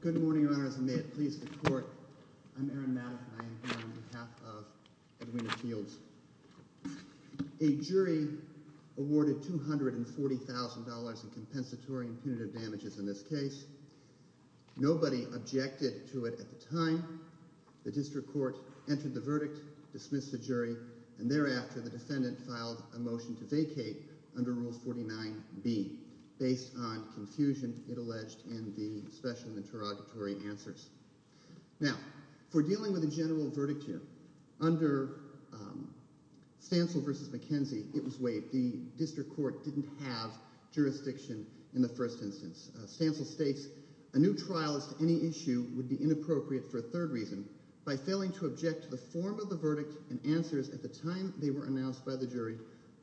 Good morning, Your Honors, and may it please the Court, I'm Aaron Maddox and I am here on behalf of Edwina Fields. A jury awarded $240,000 in compensatory and punitive damages in this case. Nobody objected to it at the time. The district court entered the verdict, dismissed the jury, and thereafter the defendant filed a motion to vacate under Rule 49B based on confusion it alleged in the special and interrogatory answers. Now, for dealing with a general verdict here, under Stancil v. McKenzie, it was waived. The district court didn't have jurisdiction in the first instance. Stancil states, a new trial as to any issue would be inappropriate for a third reason. By failing to object to the form of the verdict and answers at the time they were announced by the jury,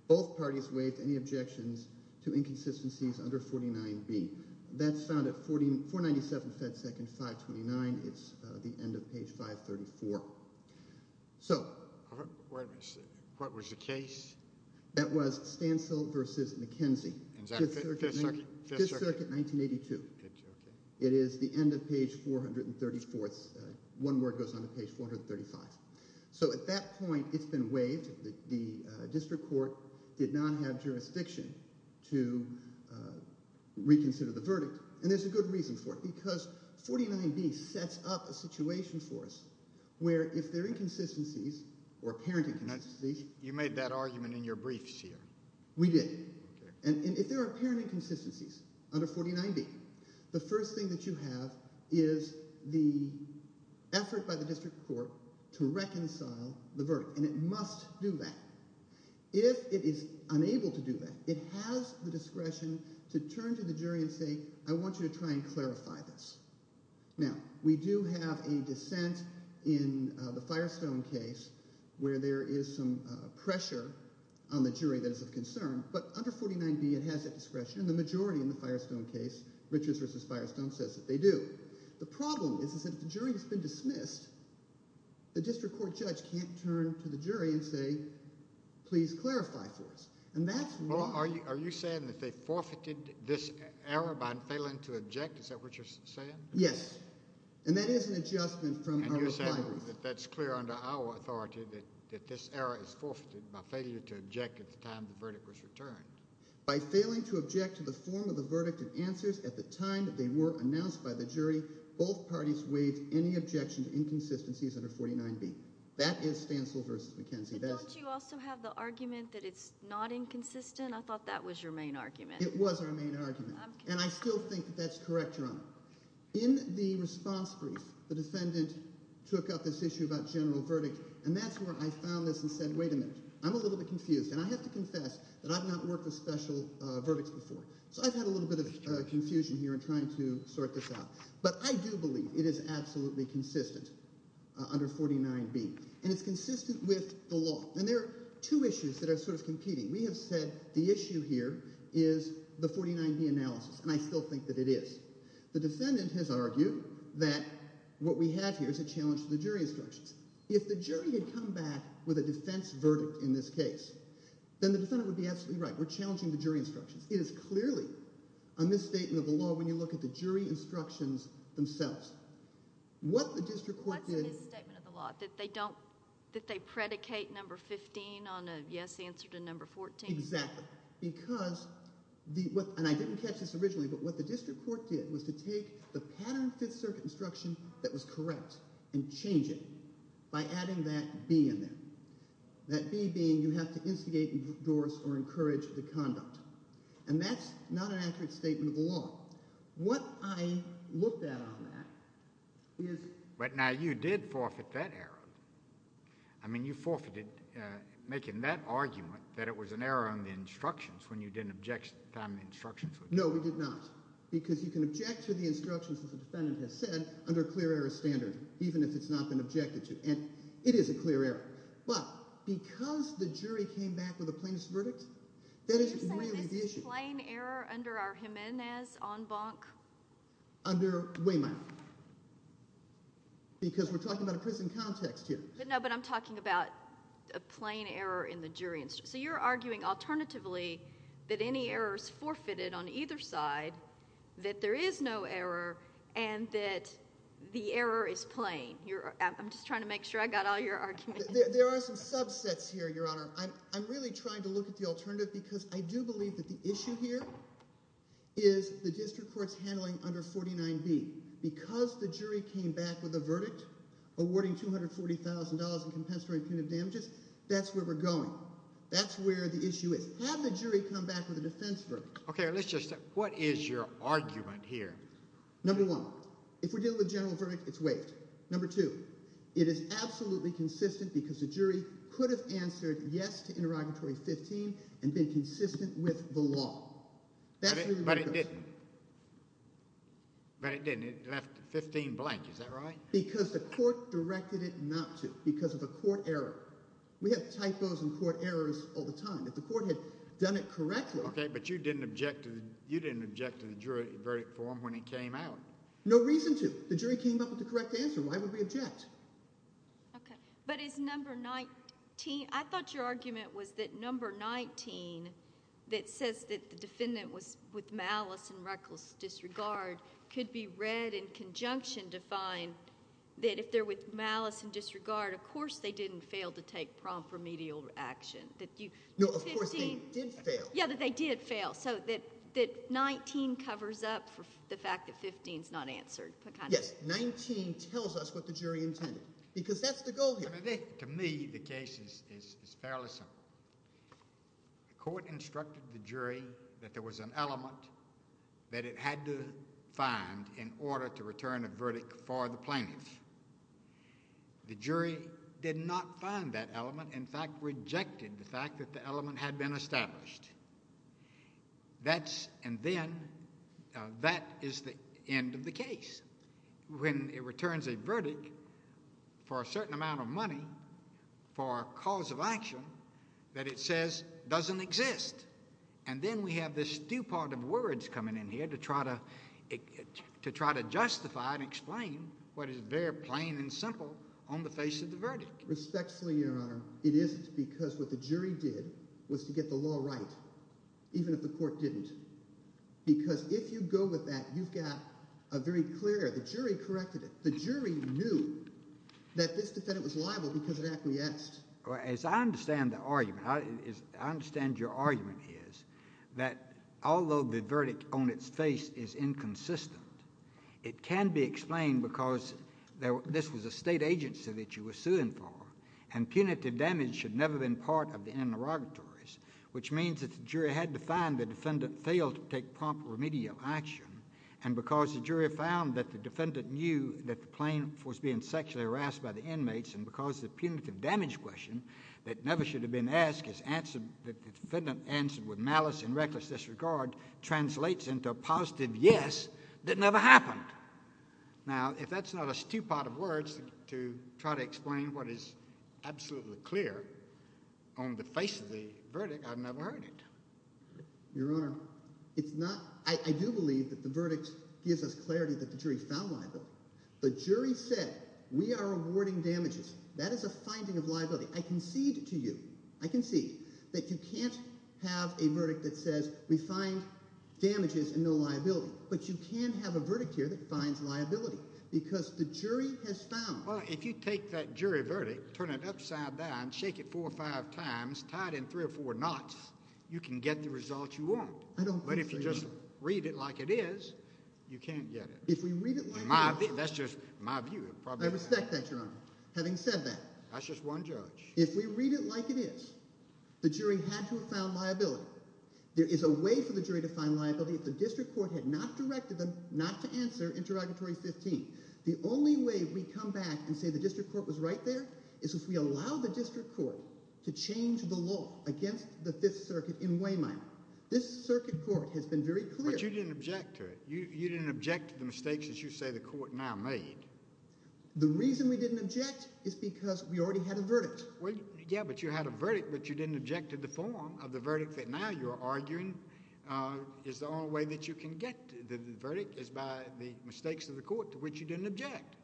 both parties waived any objections to inconsistencies under 49B. That's found at 497 Fed Second 529. It's the end of page 534. So, what was the case? That was Stancil v. McKenzie, 5th Circuit, 1982. It is the end of page 434. One word goes on to page 435. So at that point, it's been waived. The district court did not have jurisdiction to reconsider the verdict, and there's a good reason for it because 49B sets up a situation for us where if there are inconsistencies or apparent inconsistencies… You made that argument in your briefs here. We did. And if there are apparent inconsistencies under 49B, the first thing that you have is the effort by the district court to reconcile the verdict, and it must do that. If it is unable to do that, it has the discretion to turn to the jury and say, I want you to try and clarify this. Now, we do have a dissent in the Firestone case where there is some pressure on the jury that is of concern, but under 49B it has that discretion, and the majority in the Firestone case, Richards v. Firestone, says that they do. The problem is that if the jury has been dismissed, the district court judge can't turn to the jury and say, please clarify for us, and that's wrong. Are you saying that they forfeited this error by failing to object? Is that what you're saying? Yes, and that is an adjustment from our reply brief. And you're saying that that's clear under our authority that this error is forfeited by failure to object at the time the verdict was returned? By failing to object to the form of the verdict and answers at the time they were announced by the jury, both parties waived any objection to inconsistencies under 49B. That is Stansel v. McKenzie. But don't you also have the argument that it's not inconsistent? I thought that was your main argument. It was our main argument, and I still think that that's correct, Your Honor. In the response brief, the defendant took up this issue about general verdict, and that's where I found this and said, wait a minute. I'm a little bit confused, and I have to confess that I've not worked with special verdicts before. So I've had a little bit of confusion here in trying to sort this out. But I do believe it is absolutely consistent under 49B, and it's consistent with the law. And there are two issues that are sort of competing. We have said the issue here is the 49B analysis, and I still think that it is. The defendant has argued that what we have here is a challenge to the jury instructions. If the jury had come back with a defense verdict in this case, then the defendant would be absolutely right. We're challenging the jury instructions. It is clearly a misstatement of the law when you look at the jury instructions themselves. What the district court did— What's a misstatement of the law, that they don't—that they predicate No. 15 on a yes answer to No. 14? Exactly, because the—and I didn't catch this originally, but what the district court did was to take the pattern Fifth Circuit instruction that was correct and change it. By adding that B in there, that B being you have to instigate, endorse, or encourage the conduct. And that's not an accurate statement of the law. What I looked at on that is— But now you did forfeit that error. I mean you forfeited making that argument that it was an error on the instructions when you didn't object to the time the instructions were given. No, we did not. Because you can object to the instructions that the defendant has said under clear error standard, even if it's not been objected to. And it is a clear error. But because the jury came back with a plaintiff's verdict, that is really the issue. You're saying this is plain error under our Jimenez en banc? Under Wehmeyer. Because we're talking about a prison context here. No, but I'm talking about a plain error in the jury instruction. So you're arguing alternatively that any error is forfeited on either side, that there is no error, and that the error is plain. I'm just trying to make sure I got all your arguments. There are some subsets here, Your Honor. I'm really trying to look at the alternative because I do believe that the issue here is the district court's handling under 49B. Because the jury came back with a verdict awarding $240,000 in compensatory punitive damages, that's where we're going. That's where the issue is. Have the jury come back with a defense verdict. Okay, let's just – what is your argument here? Number one, if we're dealing with a general verdict, it's waived. Number two, it is absolutely consistent because the jury could have answered yes to interrogatory 15 and been consistent with the law. But it didn't. But it didn't. It left 15 blank. Is that right? Because the court directed it not to because of a court error. We have typos in court errors all the time. If the court had done it correctly – Okay, but you didn't object to the jury verdict form when it came out. The jury came up with the correct answer. Why would we object? Okay, but is number 19 – I thought your argument was that number 19, that says that the defendant was with malice and reckless disregard, could be read in conjunction to find that if they're with malice and disregard, of course they didn't fail to take prompt remedial action. No, of course they did fail. Yeah, that they did fail. So that 19 covers up for the fact that 15's not answered. Yes, 19 tells us what the jury intended because that's the goal here. To me, the case is fairly simple. The court instructed the jury that there was an element that it had to find in order to return a verdict for the plaintiff. The jury did not find that element, in fact, rejected the fact that the element had been established. That's – and then that is the end of the case. When it returns a verdict for a certain amount of money for a cause of action that it says doesn't exist. And then we have this stupor of words coming in here to try to justify and explain what is very plain and simple on the face of the verdict. Respectfully, Your Honor, it isn't because what the jury did was to get the law right, even if the court didn't. Because if you go with that, you've got a very clear – the jury corrected it. The jury knew that this defendant was liable because it acquiesced. As I understand the argument, I understand your argument is that although the verdict on its face is inconsistent, it can be explained because this was a state agency that you were suing for, and punitive damage should never have been part of the interrogatories, which means that the jury had to find the defendant failed to take proper remedial action. And because the jury found that the defendant knew that the plaintiff was being sexually harassed by the inmates and because the punitive damage question that never should have been asked is answered – the defendant answered with malice and reckless disregard translates into a positive yes that never happened. Now, if that's not a stupor of words to try to explain what is absolutely clear on the face of the verdict, I've never heard it. Your Honor, it's not – I do believe that the verdict gives us clarity that the jury found liable. The jury said we are awarding damages. That is a finding of liability. I concede to you – I concede that you can't have a verdict that says we find damages and no liability. But you can have a verdict here that finds liability because the jury has found – Well, if you take that jury verdict, turn it upside down, shake it four or five times, tie it in three or four knots, you can get the result you want. I don't think so, Your Honor. But if you just read it like it is, you can't get it. That's just my view. I respect that, Your Honor, having said that. That's just one judge. If we read it like it is, the jury had to have found liability. There is a way for the jury to find liability if the district court had not directed them not to answer interrogatory 15. The only way we come back and say the district court was right there is if we allow the district court to change the law against the Fifth Circuit in Wayminer. This circuit court has been very clear. But you didn't object to it. You didn't object to the mistakes that you say the court now made. The reason we didn't object is because we already had a verdict. Yeah, but you had a verdict, but you didn't object to the form of the verdict that now you're arguing is the only way that you can get. The verdict is by the mistakes of the court to which you didn't object.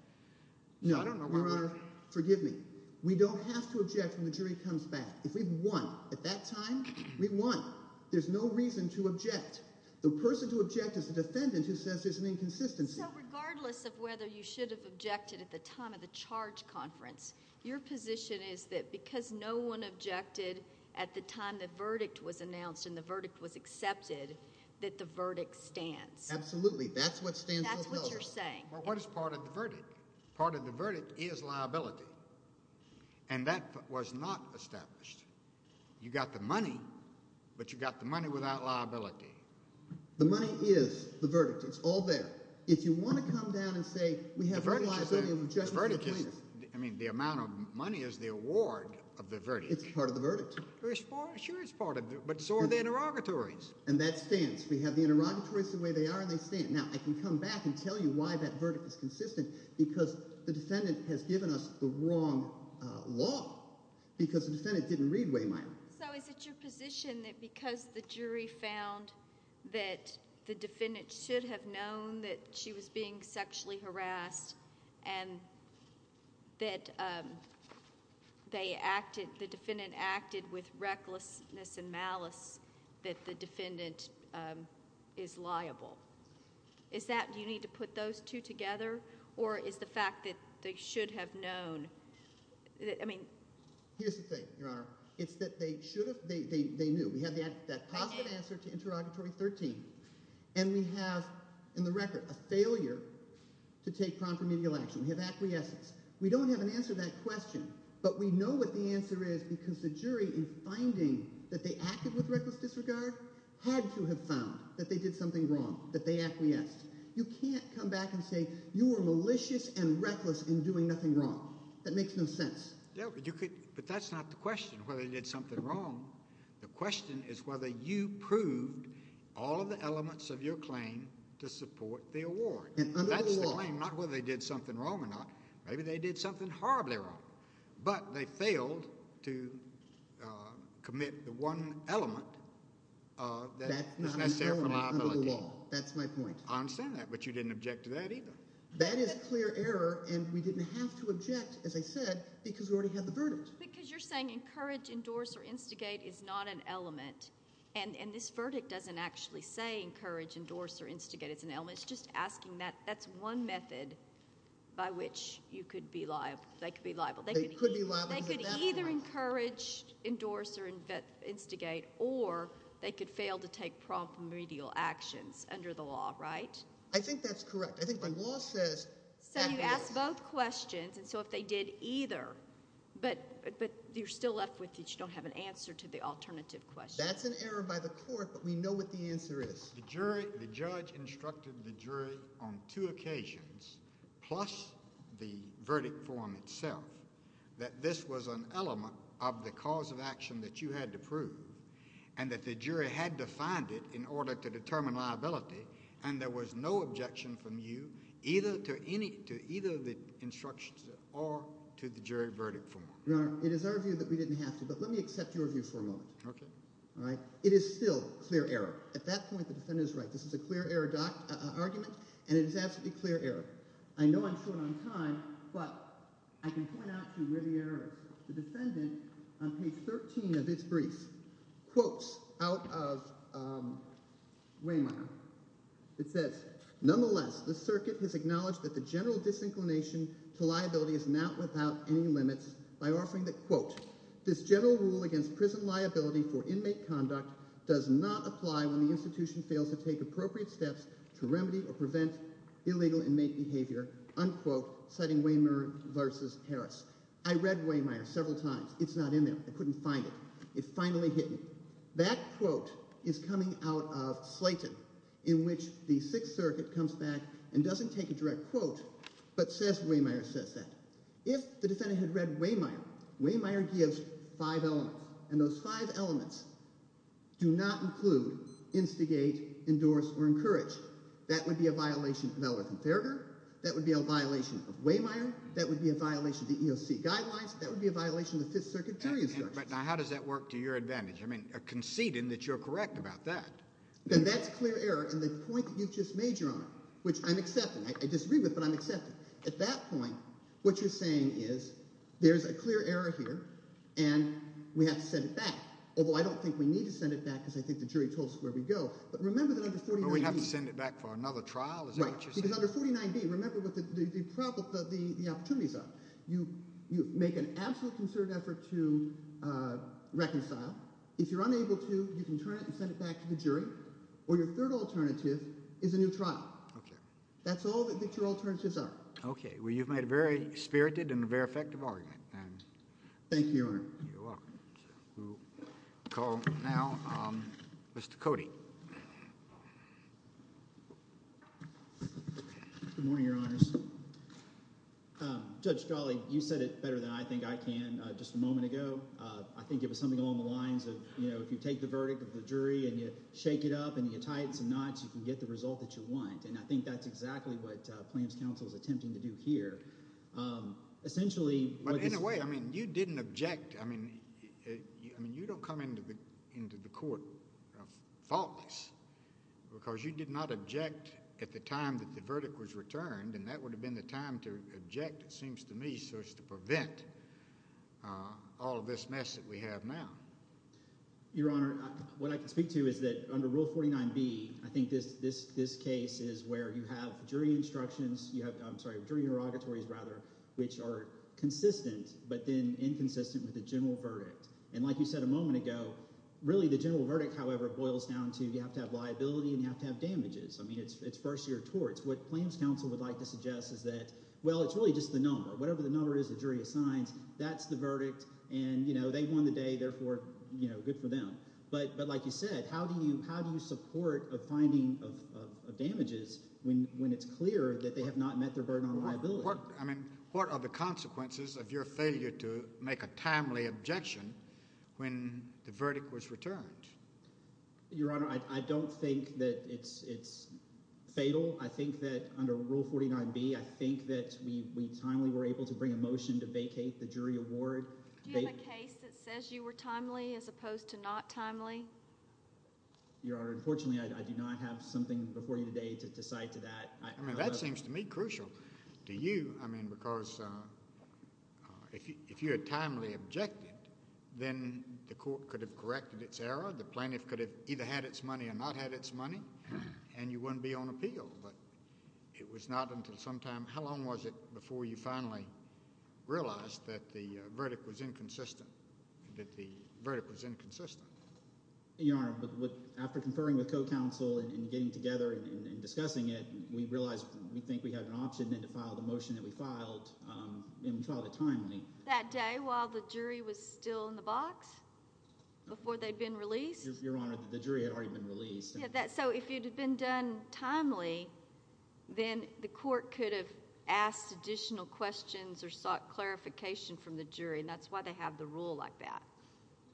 No, Your Honor. Forgive me. We don't have to object when the jury comes back. If we've won at that time, we've won. There's no reason to object. The person to object is the defendant who says there's an inconsistency. So regardless of whether you should have objected at the time of the charge conference, your position is that because no one objected at the time the verdict was announced and the verdict was accepted, that the verdict stands. Absolutely. That's what stands. That's what you're saying. What is part of the verdict? Part of the verdict is liability. And that was not established. You got the money, but you got the money without liability. The money is the verdict. It's all there. If you want to come down and say we have no liability of objection to the plaintiff. I mean the amount of money is the award of the verdict. It's part of the verdict. Sure it's part of it, but so are the interrogatories. And that stands. We have the interrogatories the way they are and they stand. Now I can come back and tell you why that verdict is consistent because the defendant has given us the wrong law because the defendant didn't read way minor. So is it your position that because the jury found that the defendant should have known that she was being sexually harassed and that they acted, the defendant acted with recklessness and malice that the defendant is liable? Is that you need to put those two together or is the fact that they should have known? Here's the thing, Your Honor. It's that they should have, they knew. We have that positive answer to interrogatory 13. And we have in the record a failure to take prompt remedial action. We have acquiescence. We don't have an answer to that question, but we know what the answer is because the jury in finding that they acted with reckless disregard had to have found that they did something wrong, that they acquiesced. You can't come back and say you were malicious and reckless in doing nothing wrong. That makes no sense. But that's not the question, whether they did something wrong. The question is whether you proved all of the elements of your claim to support the award. That's the claim, not whether they did something wrong or not. Maybe they did something horribly wrong, but they failed to commit the one element that is necessary for liability. That's my point. I understand that, but you didn't object to that either. That is clear error, and we didn't have to object, as I said, because we already had the verdict. Because you're saying encourage, endorse, or instigate is not an element, and this verdict doesn't actually say encourage, endorse, or instigate. It's an element. It's just asking that. That's one method by which you could be liable. They could be liable. I think that's correct. I think the law says that yes. So you asked both questions, and so if they did either, but you're still left with you don't have an answer to the alternative question. That's an error by the court, but we know what the answer is. Your Honor, it is our view that we didn't have to, but let me accept your view for a moment. Okay. All right? It is still clear error. At that point, the defendant is right. This is a clear error argument, and it is absolutely clear error. I know I'm short on time, but I can point out to you where the error is. The defendant, on page 13 of its brief, quotes out of Ramire. It says, nonetheless, the circuit has acknowledged that the general disinclination to liability is not without any limits by offering that, quote, this general rule against prison liability for inmate conduct does not apply when the institution fails to take appropriate steps to remedy or prevent illegal inmate behavior, unquote, citing Wehmeyer v. Harris. I read Wehmeyer several times. It's not in there. I couldn't find it. It finally hit me. That quote is coming out of Slayton, in which the Sixth Circuit comes back and doesn't take a direct quote but says Wehmeyer says that. If the defendant had read Wehmeyer, Wehmeyer gives five elements, and those five elements do not include instigate, endorse, or encourage. That would be a violation of Ellerith and Farragher. That would be a violation of Wehmeyer. That would be a violation of the EOC guidelines. That would be a violation of the Fifth Circuit jury instructions. But now how does that work to your advantage? I mean conceding that you're correct about that. Then that's clear error in the point that you've just made, Your Honor, which I'm accepting. I disagree with, but I'm accepting. At that point, what you're saying is there's a clear error here, and we have to send it back, although I don't think we need to send it back because I think the jury told us where we'd go. But remember that under 49B… But we'd have to send it back for another trial? Is that what you're saying? Right, because under 49B, remember what the opportunities are. You make an absolute concerted effort to reconcile. If you're unable to, you can turn it and send it back to the jury, or your third alternative is a new trial. That's all that your alternatives are. Okay. Well, you've made a very spirited and a very effective argument. Thank you, Your Honor. You're welcome. We'll call now Mr. Cody. Good morning, Your Honors. Judge Jolly, you said it better than I think I can just a moment ago. I think it was something along the lines of if you take the verdict of the jury and you shake it up and you tie it in some knots, you can get the result that you want. And I think that's exactly what Plans Council is attempting to do here. Essentially, what this… But in a way, I mean you didn't object. I mean you don't come into the court faultless because you did not object at the time that the verdict was returned, and that would have been the time to object, it seems to me, so as to prevent all of this mess that we have now. Your Honor, what I can speak to is that under Rule 49B, I think this case is where you have jury instructions – I'm sorry, jury interrogatories rather – which are consistent but then inconsistent with the general verdict. And like you said a moment ago, really the general verdict, however, boils down to you have to have liability and you have to have damages. I mean it's first-year torts. What Plans Council would like to suggest is that, well, it's really just the number. Whatever the number is the jury assigns, that's the verdict, and they won the day, therefore good for them. But like you said, how do you support a finding of damages when it's clear that they have not met their burden on liability? What are the consequences of your failure to make a timely objection when the verdict was returned? Your Honor, I don't think that it's fatal. I think that under Rule 49B, I think that we timely were able to bring a motion to vacate the jury award. Do you have a case that says you were timely as opposed to not timely? Your Honor, unfortunately, I do not have something before you today to cite to that. I mean that seems to me crucial to you because if you had timely objected, then the court could have corrected its error. The plaintiff could have either had its money or not had its money, and you wouldn't be on appeal. But it was not until sometime – how long was it before you finally realized that the verdict was inconsistent, that the verdict was inconsistent? Your Honor, after conferring with co-counsel and getting together and discussing it, we realized we think we have an option to file the motion that we filed, and we filed it timely. That day while the jury was still in the box? Before they'd been released? Your Honor, the jury had already been released. So if it had been done timely, then the court could have asked additional questions or sought clarification from the jury, and that's why they have the rule like that.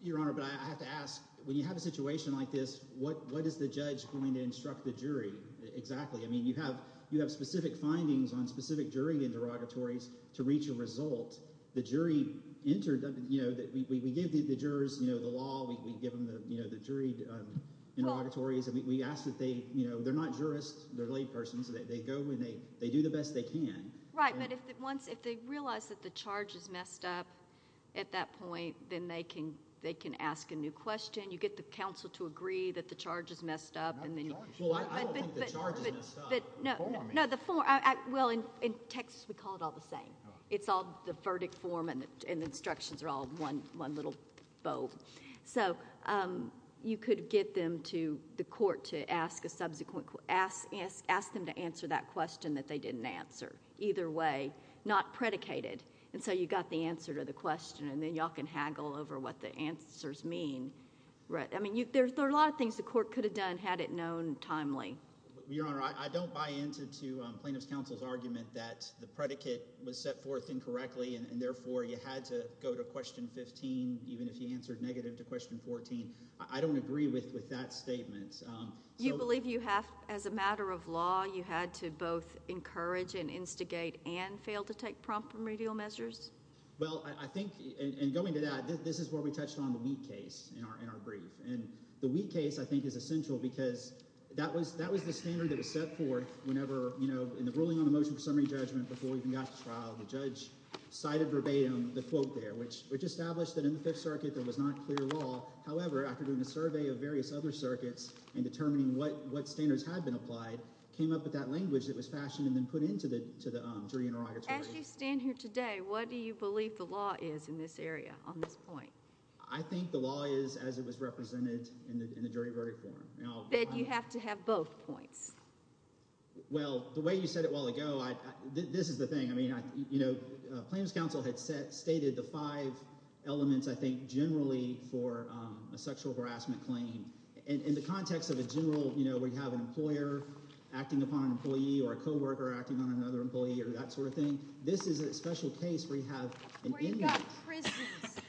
Your Honor, but I have to ask, when you have a situation like this, what is the judge going to instruct the jury exactly? I mean you have specific findings on specific jury interrogatories to reach a result. The jury entered – we give the jurors the law, we give them the juried interrogatories. We ask that they – they're not jurists. They're laypersons. They go and they do the best they can. Right, but if they realize that the charge is messed up at that point, then they can ask a new question. You get the counsel to agree that the charge is messed up, and then you... Well, I don't think the charge is messed up. No, the form – well, in Texas, we call it all the same. It's all the verdict form, and the instructions are all one little vote. So you could get them to – the court to ask a subsequent – ask them to answer that question that they didn't answer. Either way, not predicated, and so you got the answer to the question, and then y'all can haggle over what the answers mean. I mean there are a lot of things the court could have done had it known timely. Your Honor, I don't buy into plaintiff's counsel's argument that the predicate was set forth incorrectly, and therefore you had to go to question 15 even if you answered negative to question 14. I don't agree with that statement. You believe you have – as a matter of law, you had to both encourage and instigate and fail to take prompt remedial measures? Well, I think – and going to that, this is where we touched on the weak case in our brief. And the weak case, I think, is essential because that was the standard that was set forth whenever – when we got to trial, the judge cited verbatim the quote there, which established that in the Fifth Circuit there was not clear law. However, after doing a survey of various other circuits and determining what standards had been applied, came up with that language that was fashioned and then put into the jury interrogatory. As you stand here today, what do you believe the law is in this area on this point? I think the law is as it was represented in the jury verdict forum. Then you have to have both points. Well, the way you said it a while ago, this is the thing. I mean claims counsel had stated the five elements, I think, generally for a sexual harassment claim. In the context of a general – where you have an employer acting upon an employee or a coworker acting on another employee or that sort of thing, this is a special case where you have – Where you've got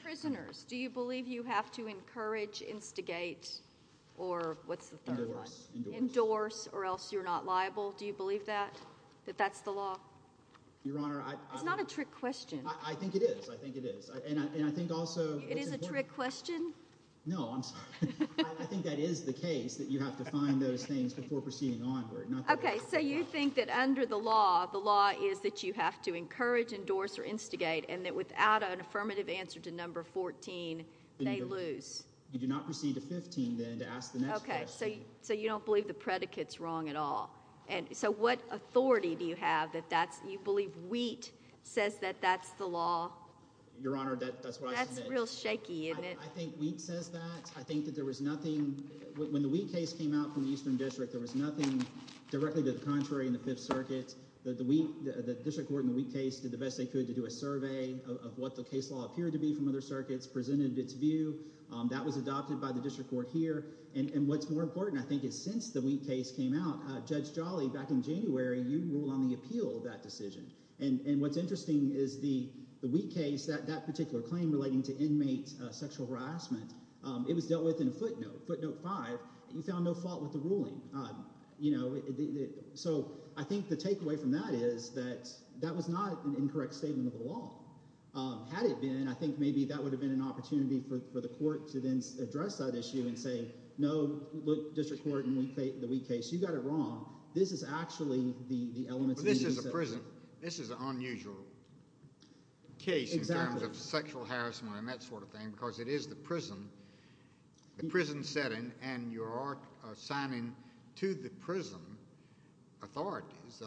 prisoners, do you believe you have to encourage, instigate, or what's the third one? Endorse. Endorse or else you're not liable. Do you believe that, that that's the law? Your Honor, I – It's not a trick question. I think it is. I think it is. And I think also – It is a trick question? No, I'm sorry. I think that is the case, that you have to find those things before proceeding onward. Okay, so you think that under the law, the law is that you have to encourage, endorse, or instigate, and that without an affirmative answer to number 14, they lose. You do not proceed to 15, then, to ask the next question. Okay, so you don't believe the predicate's wrong at all. So what authority do you have that that's – you believe Wheat says that that's the law? Your Honor, that's what I said. That's real shaky, isn't it? I think Wheat says that. I think that there was nothing – directly to the contrary in the Fifth Circuit. The district court in the Wheat case did the best they could to do a survey of what the case law appeared to be from other circuits, presented its view. That was adopted by the district court here. And what's more important, I think, is since the Wheat case came out, Judge Jolly, back in January, you ruled on the appeal of that decision. And what's interesting is the Wheat case, that particular claim relating to inmate sexual harassment, it was dealt with in footnote, footnote 5. You found no fault with the ruling. So I think the takeaway from that is that that was not an incorrect statement of the law. Had it been, I think maybe that would have been an opportunity for the court to then address that issue and say, no, look, district court, in the Wheat case, you got it wrong. This is actually the elements of the – But this is a prison. This is an unusual case in terms of sexual harassment and that sort of thing because it is the prison, the prison setting, and you are assigning to the prison authorities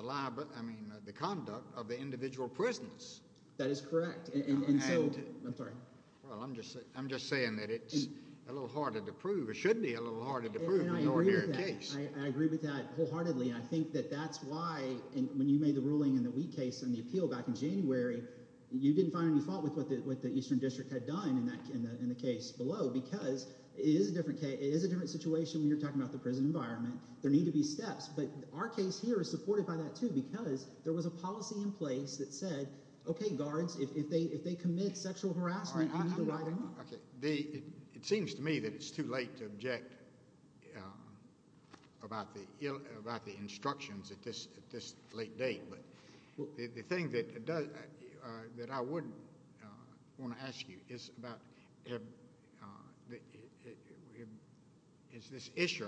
the conduct of the individual prisoners. That is correct. And so – I'm sorry. Well, I'm just saying that it's a little harder to prove. It should be a little harder to prove in an ordinary case. And I agree with that. I agree with that wholeheartedly, and I think that that's why when you made the ruling in the Wheat case and the appeal back in January, you didn't find any fault with what the eastern district had done in the case below because it is a different – it is a different situation when you're talking about the prison environment. There need to be steps. But our case here is supported by that too because there was a policy in place that said, okay, guards, if they commit sexual harassment, you need to widen up. It seems to me that it's too late to object about the instructions at this late date. But the thing that I would want to ask you is about – is this issue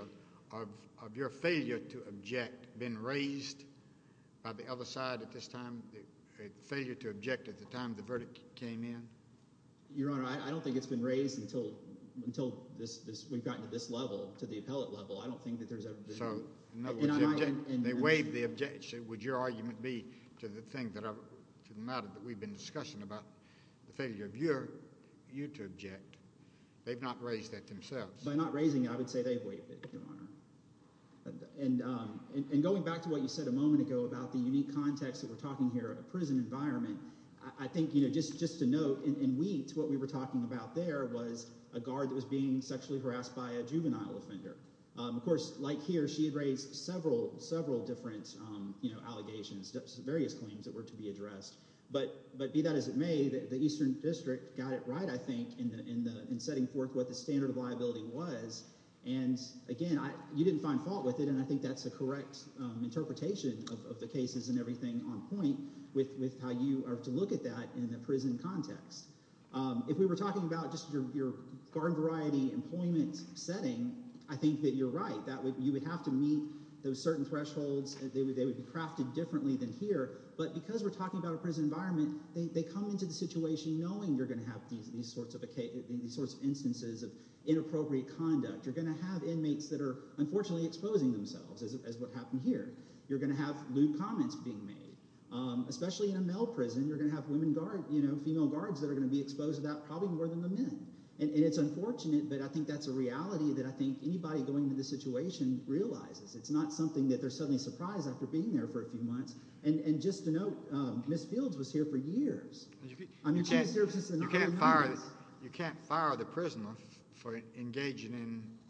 of your failure to object been raised by the other side at this time, the failure to object at the time the verdict came in? Your Honor, I don't think it's been raised until we've gotten to this level, to the appellate level. I don't think that there's ever been – In other words, they waived the objection. Would your argument be to the matter that we've been discussing about the failure of you to object? They've not raised that themselves. By not raising it, I would say they've waived it, Your Honor. And going back to what you said a moment ago about the unique context that we're talking here, a prison environment, I think just to note in Wheat what we were talking about there was a guard that was being sexually harassed by a juvenile offender. Of course, like here, she had raised several, several different allegations, various claims that were to be addressed. But be that as it may, the Eastern District got it right, I think, in setting forth what the standard of liability was. And, again, you didn't find fault with it, and I think that's a correct interpretation of the cases and everything on point with how you are to look at that in the prison context. If we were talking about just your guard variety, employment setting, I think that you're right. You would have to meet those certain thresholds. They would be crafted differently than here. But because we're talking about a prison environment, they come into the situation knowing you're going to have these sorts of instances of inappropriate conduct. You're going to have inmates that are unfortunately exposing themselves, as what happened here. You're going to have lewd comments being made. Especially in a male prison, you're going to have female guards that are going to be exposed to that probably more than the men. And it's unfortunate, but I think that's a reality that I think anybody going into this situation realizes. It's not something that they're suddenly surprised after being there for a few months. And just to note, Ms. Fields was here for years. She was here for just a number of months. You can't fire the prisoner for engaging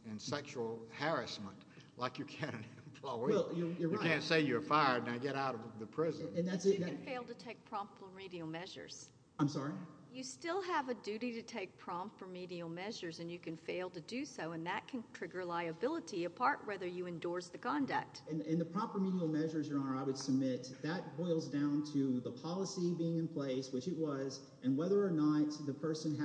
in sexual harassment like you can an employee. You're right. I didn't say you were fired. Now get out of the prison. You can fail to take prompt remedial measures. I'm sorry? You still have a duty to take prompt remedial measures, and you can fail to do so. And that can trigger liability, apart whether you endorse the conduct. In the prompt remedial measures, Your Honor, I would submit that boils down to the policy being in place, which it was, and whether or not the person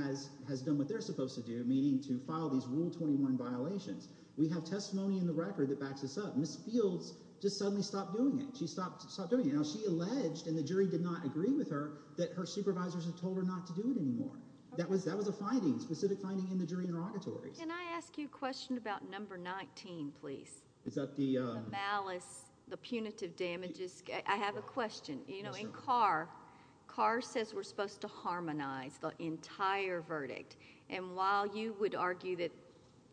has done what they're supposed to do, meaning to file these Rule 21 violations. We have testimony in the record that backs this up. Ms. Fields just suddenly stopped doing it. She stopped doing it. Now she alleged, and the jury did not agree with her, that her supervisors had told her not to do it anymore. That was a finding, a specific finding in the jury interrogatory. Can I ask you a question about number 19, please? Is that the? The malice, the punitive damages. I have a question. In Carr, Carr says we're supposed to harmonize the entire verdict. And while you would argue that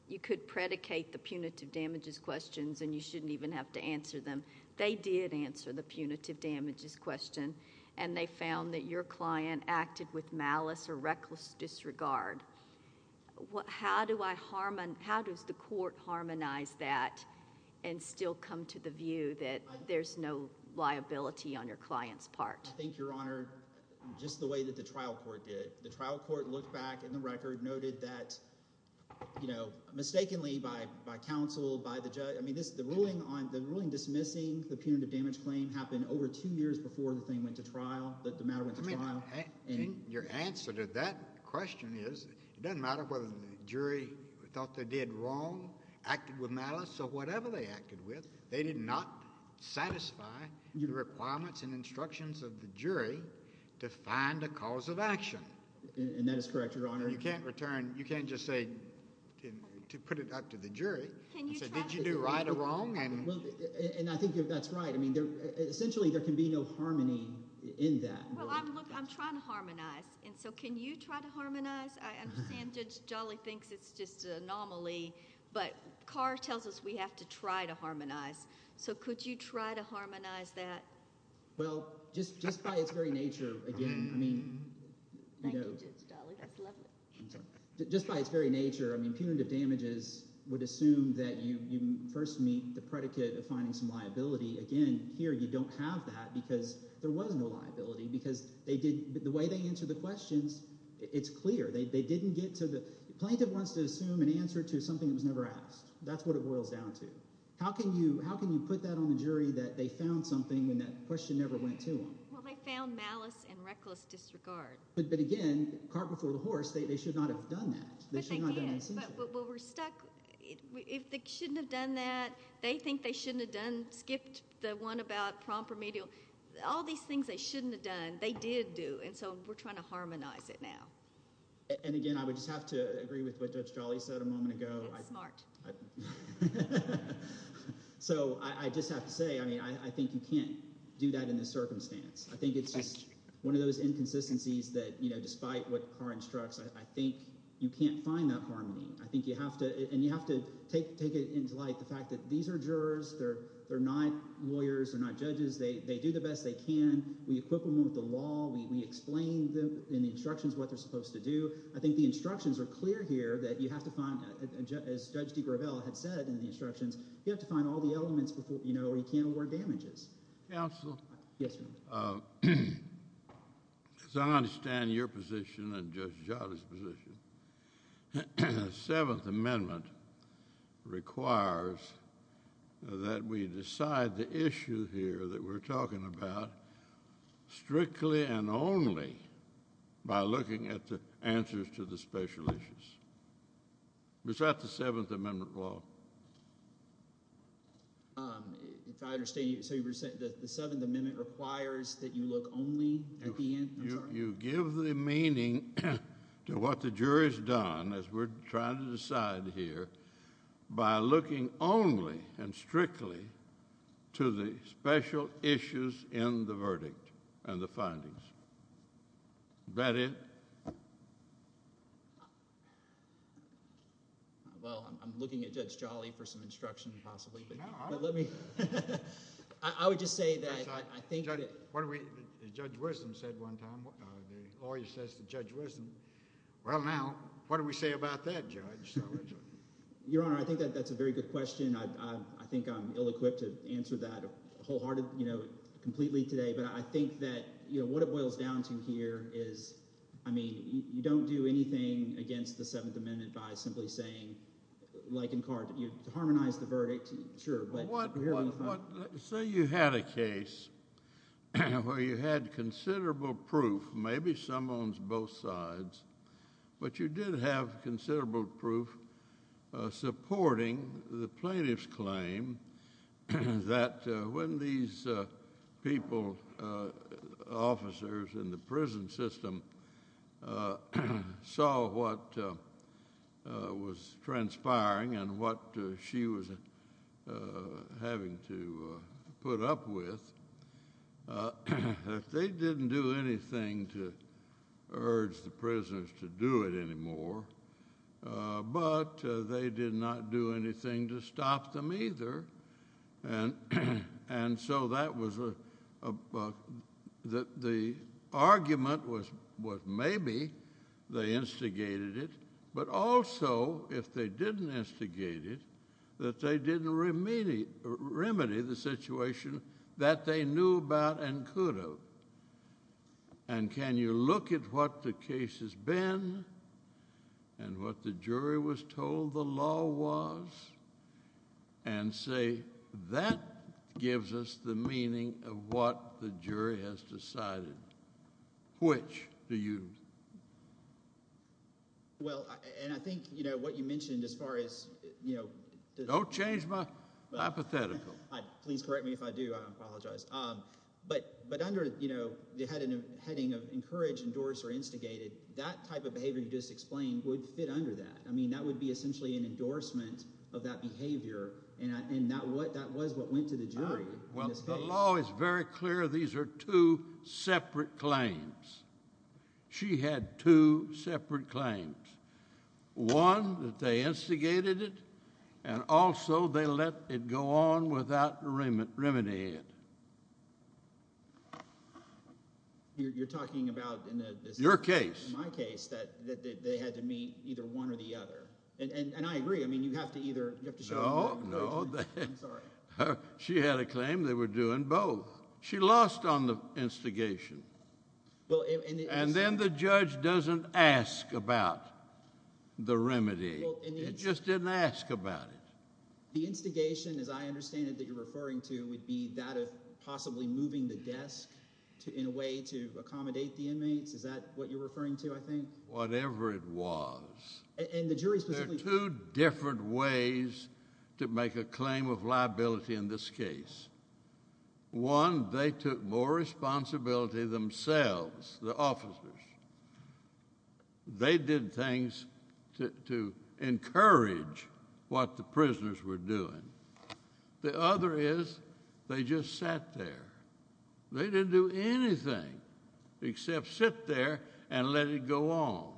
you could predicate the punitive damages questions and you shouldn't even have to answer them, they did answer the punitive damages question. And they found that your client acted with malice or reckless disregard. How do I harmonize – how does the court harmonize that and still come to the view that there's no liability on your client's part? I think, Your Honor, just the way that the trial court did it. The trial court looked back in the record, noted that mistakenly by counsel, by the judge – I mean the ruling dismissing the punitive damage claim happened over two years before the thing went to trial, the matter went to trial. I mean your answer to that question is it doesn't matter whether the jury thought they did wrong, acted with malice or whatever they acted with. They did not satisfy the requirements and instructions of the jury to find a cause of action. And that is correct, Your Honor. You can't return – you can't just say – to put it up to the jury and say, did you do right or wrong? And I think that's right. I mean essentially there can be no harmony in that. Well, look, I'm trying to harmonize. And so can you try to harmonize? I understand Judge Dali thinks it's just an anomaly, but Carr tells us we have to try to harmonize. So could you try to harmonize that? Well, just by its very nature, again, I mean – Thank you, Judge Dali. That's lovely. I'm sorry. Just by its very nature, I mean punitive damages would assume that you first meet the predicate of finding some liability. Again, here you don't have that because there was no liability because they did – the way they answered the questions, it's clear. They didn't get to the – a plaintiff wants to assume an answer to something that was never asked. That's what it boils down to. How can you put that on the jury that they found something when that question never went to them? Well, they found malice and reckless disregard. But again, cart before the horse, they should not have done that. But they did. They should not have done that essentially. But we're stuck – if they shouldn't have done that, they think they shouldn't have done – skipped the one about prompt remedial. All these things they shouldn't have done, they did do, and so we're trying to harmonize it now. And again, I would just have to agree with what Judge Dali said a moment ago. Smart. So I just have to say, I mean I think you can't do that in this circumstance. I think it's just one of those inconsistencies that despite what Carr instructs, I think you can't find that harmony. I think you have to – and you have to take it into light, the fact that these are jurors. They're not lawyers. They're not judges. They do the best they can. We equip them with the law. We explain them in the instructions what they're supposed to do. I think the instructions are clear here that you have to find, as Judge DeGravelle had said in the instructions, you have to find all the elements before – or you can't award damages. Counsel? Yes, Your Honor. As I understand your position and Judge Jota's position, the Seventh Amendment requires that we decide the issue here that we're talking about strictly and only by looking at the answers to the special issues. Is that the Seventh Amendment law? If I understand you – so you were saying the Seventh Amendment requires that you look only at the – I'm sorry. You give the meaning to what the jury's done as we're trying to decide here by looking only and strictly to the special issues in the verdict and the findings. Is that it? Well, I'm looking at Judge Jolly for some instruction possibly, but let me – I would just say that I think – Judge Wisdom said one time – the lawyer says to Judge Wisdom, well, now, what do we say about that, Judge? Your Honor, I think that's a very good question. I think I'm ill-equipped to answer that wholeheartedly, completely today. But I think that what it boils down to here is, I mean, you don't do anything against the Seventh Amendment by simply saying, like in – to harmonize the verdict, sure. Say you had a case where you had considerable proof, maybe some on both sides, but you did have considerable proof supporting the plaintiff's claim that when these people, officers in the prison system, saw what was transpiring and what she was having to put up with, they didn't do anything to urge the prisoners to do it anymore, but they did not do anything to stop them either. And so that was a – the argument was maybe they instigated it, but also, if they didn't instigate it, that they didn't remedy the situation that they knew about and could have. And can you look at what the case has been and what the jury was told the law was and say that gives us the meaning of what the jury has decided? Which do you – Well, and I think what you mentioned as far as – Don't change my hypothetical. But under the heading of encourage, endorse, or instigate it, that type of behavior you just explained would fit under that. I mean that would be essentially an endorsement of that behavior, and that was what went to the jury in this case. Well, the law is very clear. These are two separate claims. She had two separate claims, one that they instigated it, and also they let it go on without remedying it. You're talking about in the – Your case. In my case that they had to meet either one or the other, and I agree. I mean you have to either – No, no. I'm sorry. She had a claim they were doing both. She lost on the instigation, and then the judge doesn't ask about the remedy. It just didn't ask about it. The instigation, as I understand it, that you're referring to would be that of possibly moving the desk in a way to accommodate the inmates. Is that what you're referring to, I think? Whatever it was. And the jury specifically – There are two different ways to make a claim of liability in this case. One, they took more responsibility themselves, the officers. They did things to encourage what the prisoners were doing. The other is they just sat there. They didn't do anything except sit there and let it go on.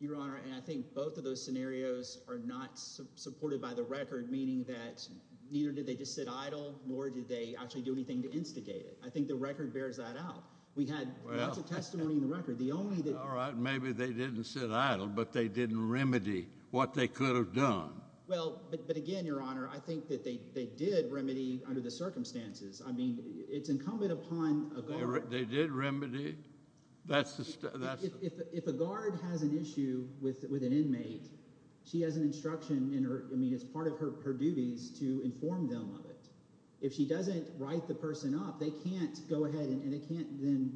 Your Honor, I think both of those scenarios are not supported by the record, meaning that neither did they just sit idle nor did they actually do anything to instigate it. I think the record bears that out. We had lots of testimony in the record. The only thing – All right, maybe they didn't sit idle, but they didn't remedy what they could have done. Well, but again, Your Honor, I think that they did remedy under the circumstances. I mean it's incumbent upon a guard – They did remedy. That's the – If a guard has an issue with an inmate, she has an instruction in her – I mean it's part of her duties to inform them of it. If she doesn't write the person up, they can't go ahead and they can't then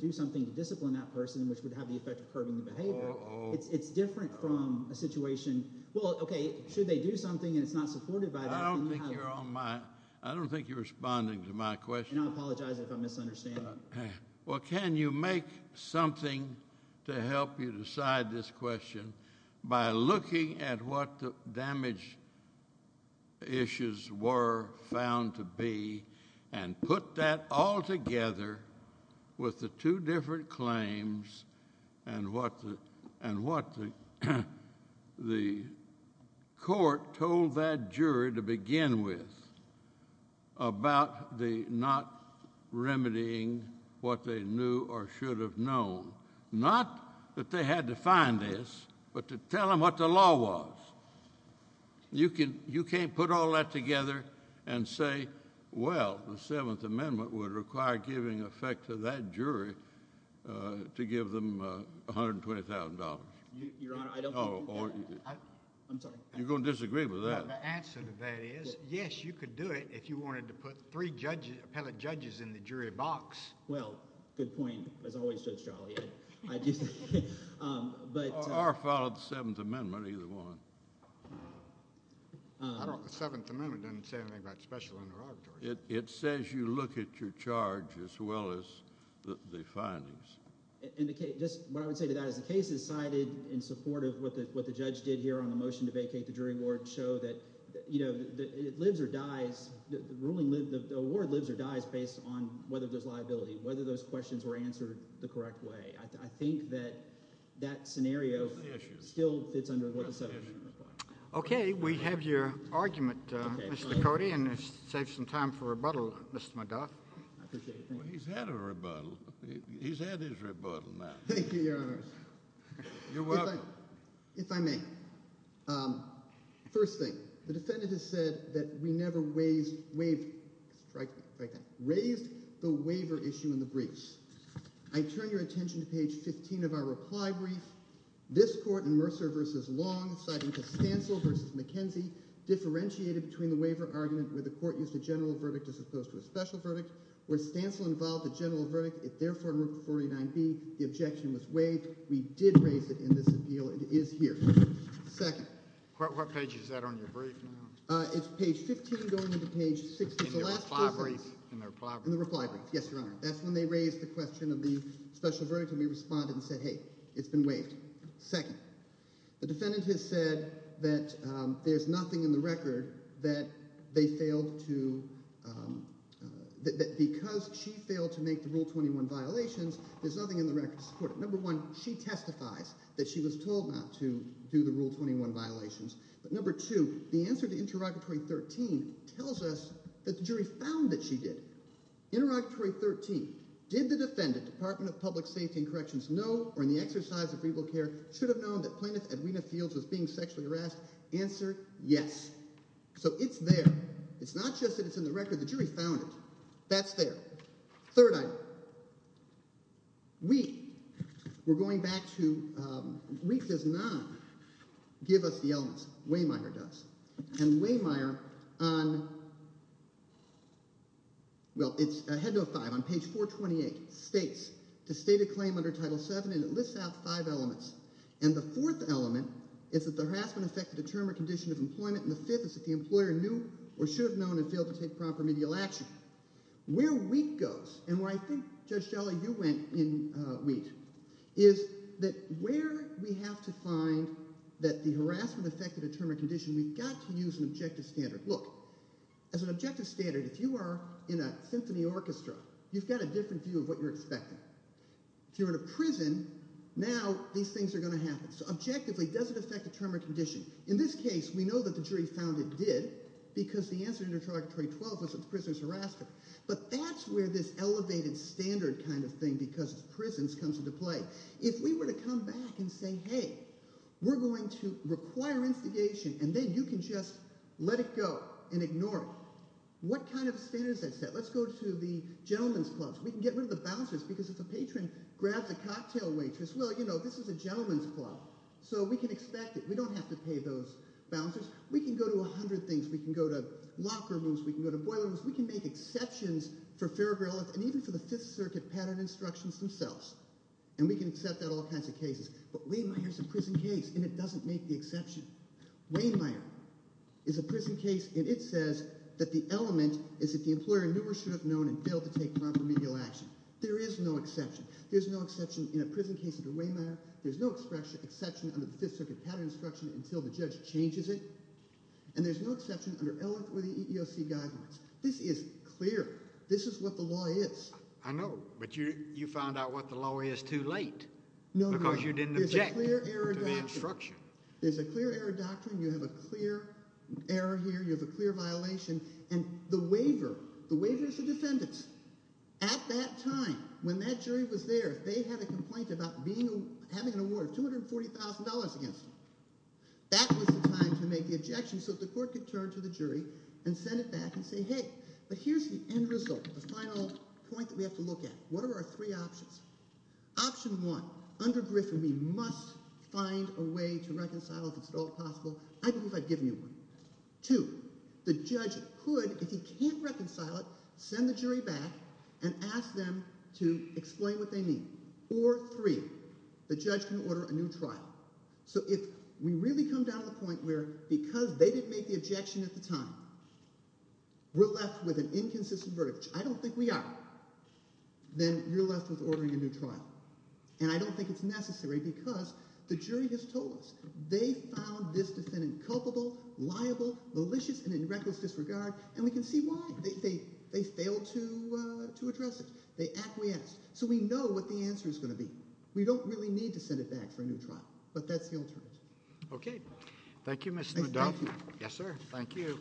do something to discipline that person, which would have the effect of curbing the behavior. It's different from a situation – well, okay, should they do something, and it's not supported by that, then you have – I don't think you're on my – I don't think you're responding to my question. And I apologize if I'm misunderstanding. Well, can you make something to help you decide this question by looking at what the damage issues were found to be and put that all together with the two different claims and what the court told that jury to begin with about the not remedying what they knew or should have known? Not that they had to find this, but to tell them what the law was. You can't put all that together and say, well, the Seventh Amendment would require giving effect to that jury to give them $120,000. Your Honor, I don't think that – I'm sorry. You're going to disagree with that. The answer to that is, yes, you could do it if you wanted to put three appellate judges in the jury box. Well, good point, as always, Judge Charlie. Or follow the Seventh Amendment, either one. I don't – the Seventh Amendment doesn't say anything about special interrogatory. It says you look at your charge as well as the findings. And just what I would say to that is the case is cited in support of what the judge did here on the motion to vacate the jury board and show that it lives or dies – the ruling – the award lives or dies based on whether there's liability, whether those questions were answered the correct way. I think that that scenario still fits under what the Seventh Amendment requires. Okay. We have your argument, Mr. Cote, and it saves some time for rebuttal, Mr. McGaugh. I appreciate it. He's had a rebuttal. He's had his rebuttal now. Thank you, Your Honor. You're welcome. If I may. First thing, the defendant has said that we never raised the waiver issue in the briefs. I turn your attention to page 15 of our reply brief. This court in Mercer v. Long, citing Costanzo v. McKenzie, differentiated between the waiver argument where the court used a general verdict as opposed to a special verdict. Where Stancil involved a general verdict, it therefore removed 49B. The objection was waived. We did raise it in this appeal. It is here. Second. What page is that on your brief now? It's page 15 going into page 16. In the reply brief? In the reply brief. In the reply brief. Yes, Your Honor. That's when they raised the question of the special verdict, and we responded and said, hey, it's been waived. Second. The defendant has said that there's nothing in the record that they failed to—that because she failed to make the Rule 21 violations, there's nothing in the record to support it. Number one, she testifies that she was told not to do the Rule 21 violations. But number two, the answer to Interrogatory 13 tells us that the jury found that she did. Interrogatory 13. Did the defendant, Department of Public Safety and Corrections, know or in the exercise of legal care should have known that plaintiff Edwina Fields was being sexually harassed? Answer, yes. So it's there. It's not just that it's in the record. The jury found it. That's there. Third item. Wheat. We're going back to—Wheat does not give us the elements. Waymire does. And Waymire on—well, it's Head Note 5 on page 428 states, to state a claim under Title VII, and it lists out five elements. And the fourth element is that the harassment affected a term or condition of employment, and the fifth is that the employer knew or should have known and failed to take proper remedial action. Where Wheat goes, and where I think, Judge Shelley, you went in Wheat, is that where we have to find that the harassment affected a term or condition, we've got to use an objective standard. Look, as an objective standard, if you are in a symphony orchestra, you've got a different view of what you're expecting. If you're in a prison, now these things are going to happen. So objectively, does it affect a term or condition? In this case, we know that the jury found it did because the answer to Interrogatory 12 was that the prisoners harassed her. But that's where this elevated standard kind of thing, because it's prisons, comes into play. If we were to come back and say, hey, we're going to require instigation, and then you can just let it go and ignore it, what kind of standard is that set? Let's go to the gentlemen's clubs. We can get rid of the bouncers because if a patron grabs a cocktail waitress, well, you know, this is a gentlemen's club, so we can expect it. We don't have to pay those bouncers. We can go to a hundred things. We can go to locker rooms. We can go to boilers. We can make exceptions for Farragher, Elliott, and even for the Fifth Circuit pattern instructions themselves. And we can accept that in all kinds of cases. But Waymeyer's a prison case, and it doesn't make the exception. Waymeyer is a prison case, and it says that the element is that the employer knew or should have known and failed to take proper remedial action. There is no exception. There's no exception in a prison case under Waymeyer. There's no exception under the Fifth Circuit pattern instruction until the judge changes it. And there's no exception under Elliott or the EEOC guidelines. This is clear. This is what the law is. I know, but you found out what the law is too late because you didn't object to the instruction. There's a clear error doctrine. You have a clear error here. You have a clear violation. And the waiver, the waiver is the defendant's. $240,000 against him. That was the time to make the objection so that the court could turn to the jury and send it back and say, hey, but here's the end result, the final point that we have to look at. What are our three options? Option one, under Griffin, we must find a way to reconcile if it's at all possible. I believe I've given you one. Two, the judge could, if he can't reconcile it, send the jury back and ask them to explain what they mean. Or three, the judge can order a new trial. So if we really come down to the point where because they didn't make the objection at the time, we're left with an inconsistent verdict, which I don't think we are, then you're left with ordering a new trial. And I don't think it's necessary because the jury has told us. They found this defendant culpable, liable, malicious, and in reckless disregard, and we can see why. They failed to address it. They acquiesced. So we know what the answer is going to be. We don't really need to send it back for a new trial, but that's the alternative. Okay. Thank you, Mr. McDuff. Thank you. Yes, sir. Thank you.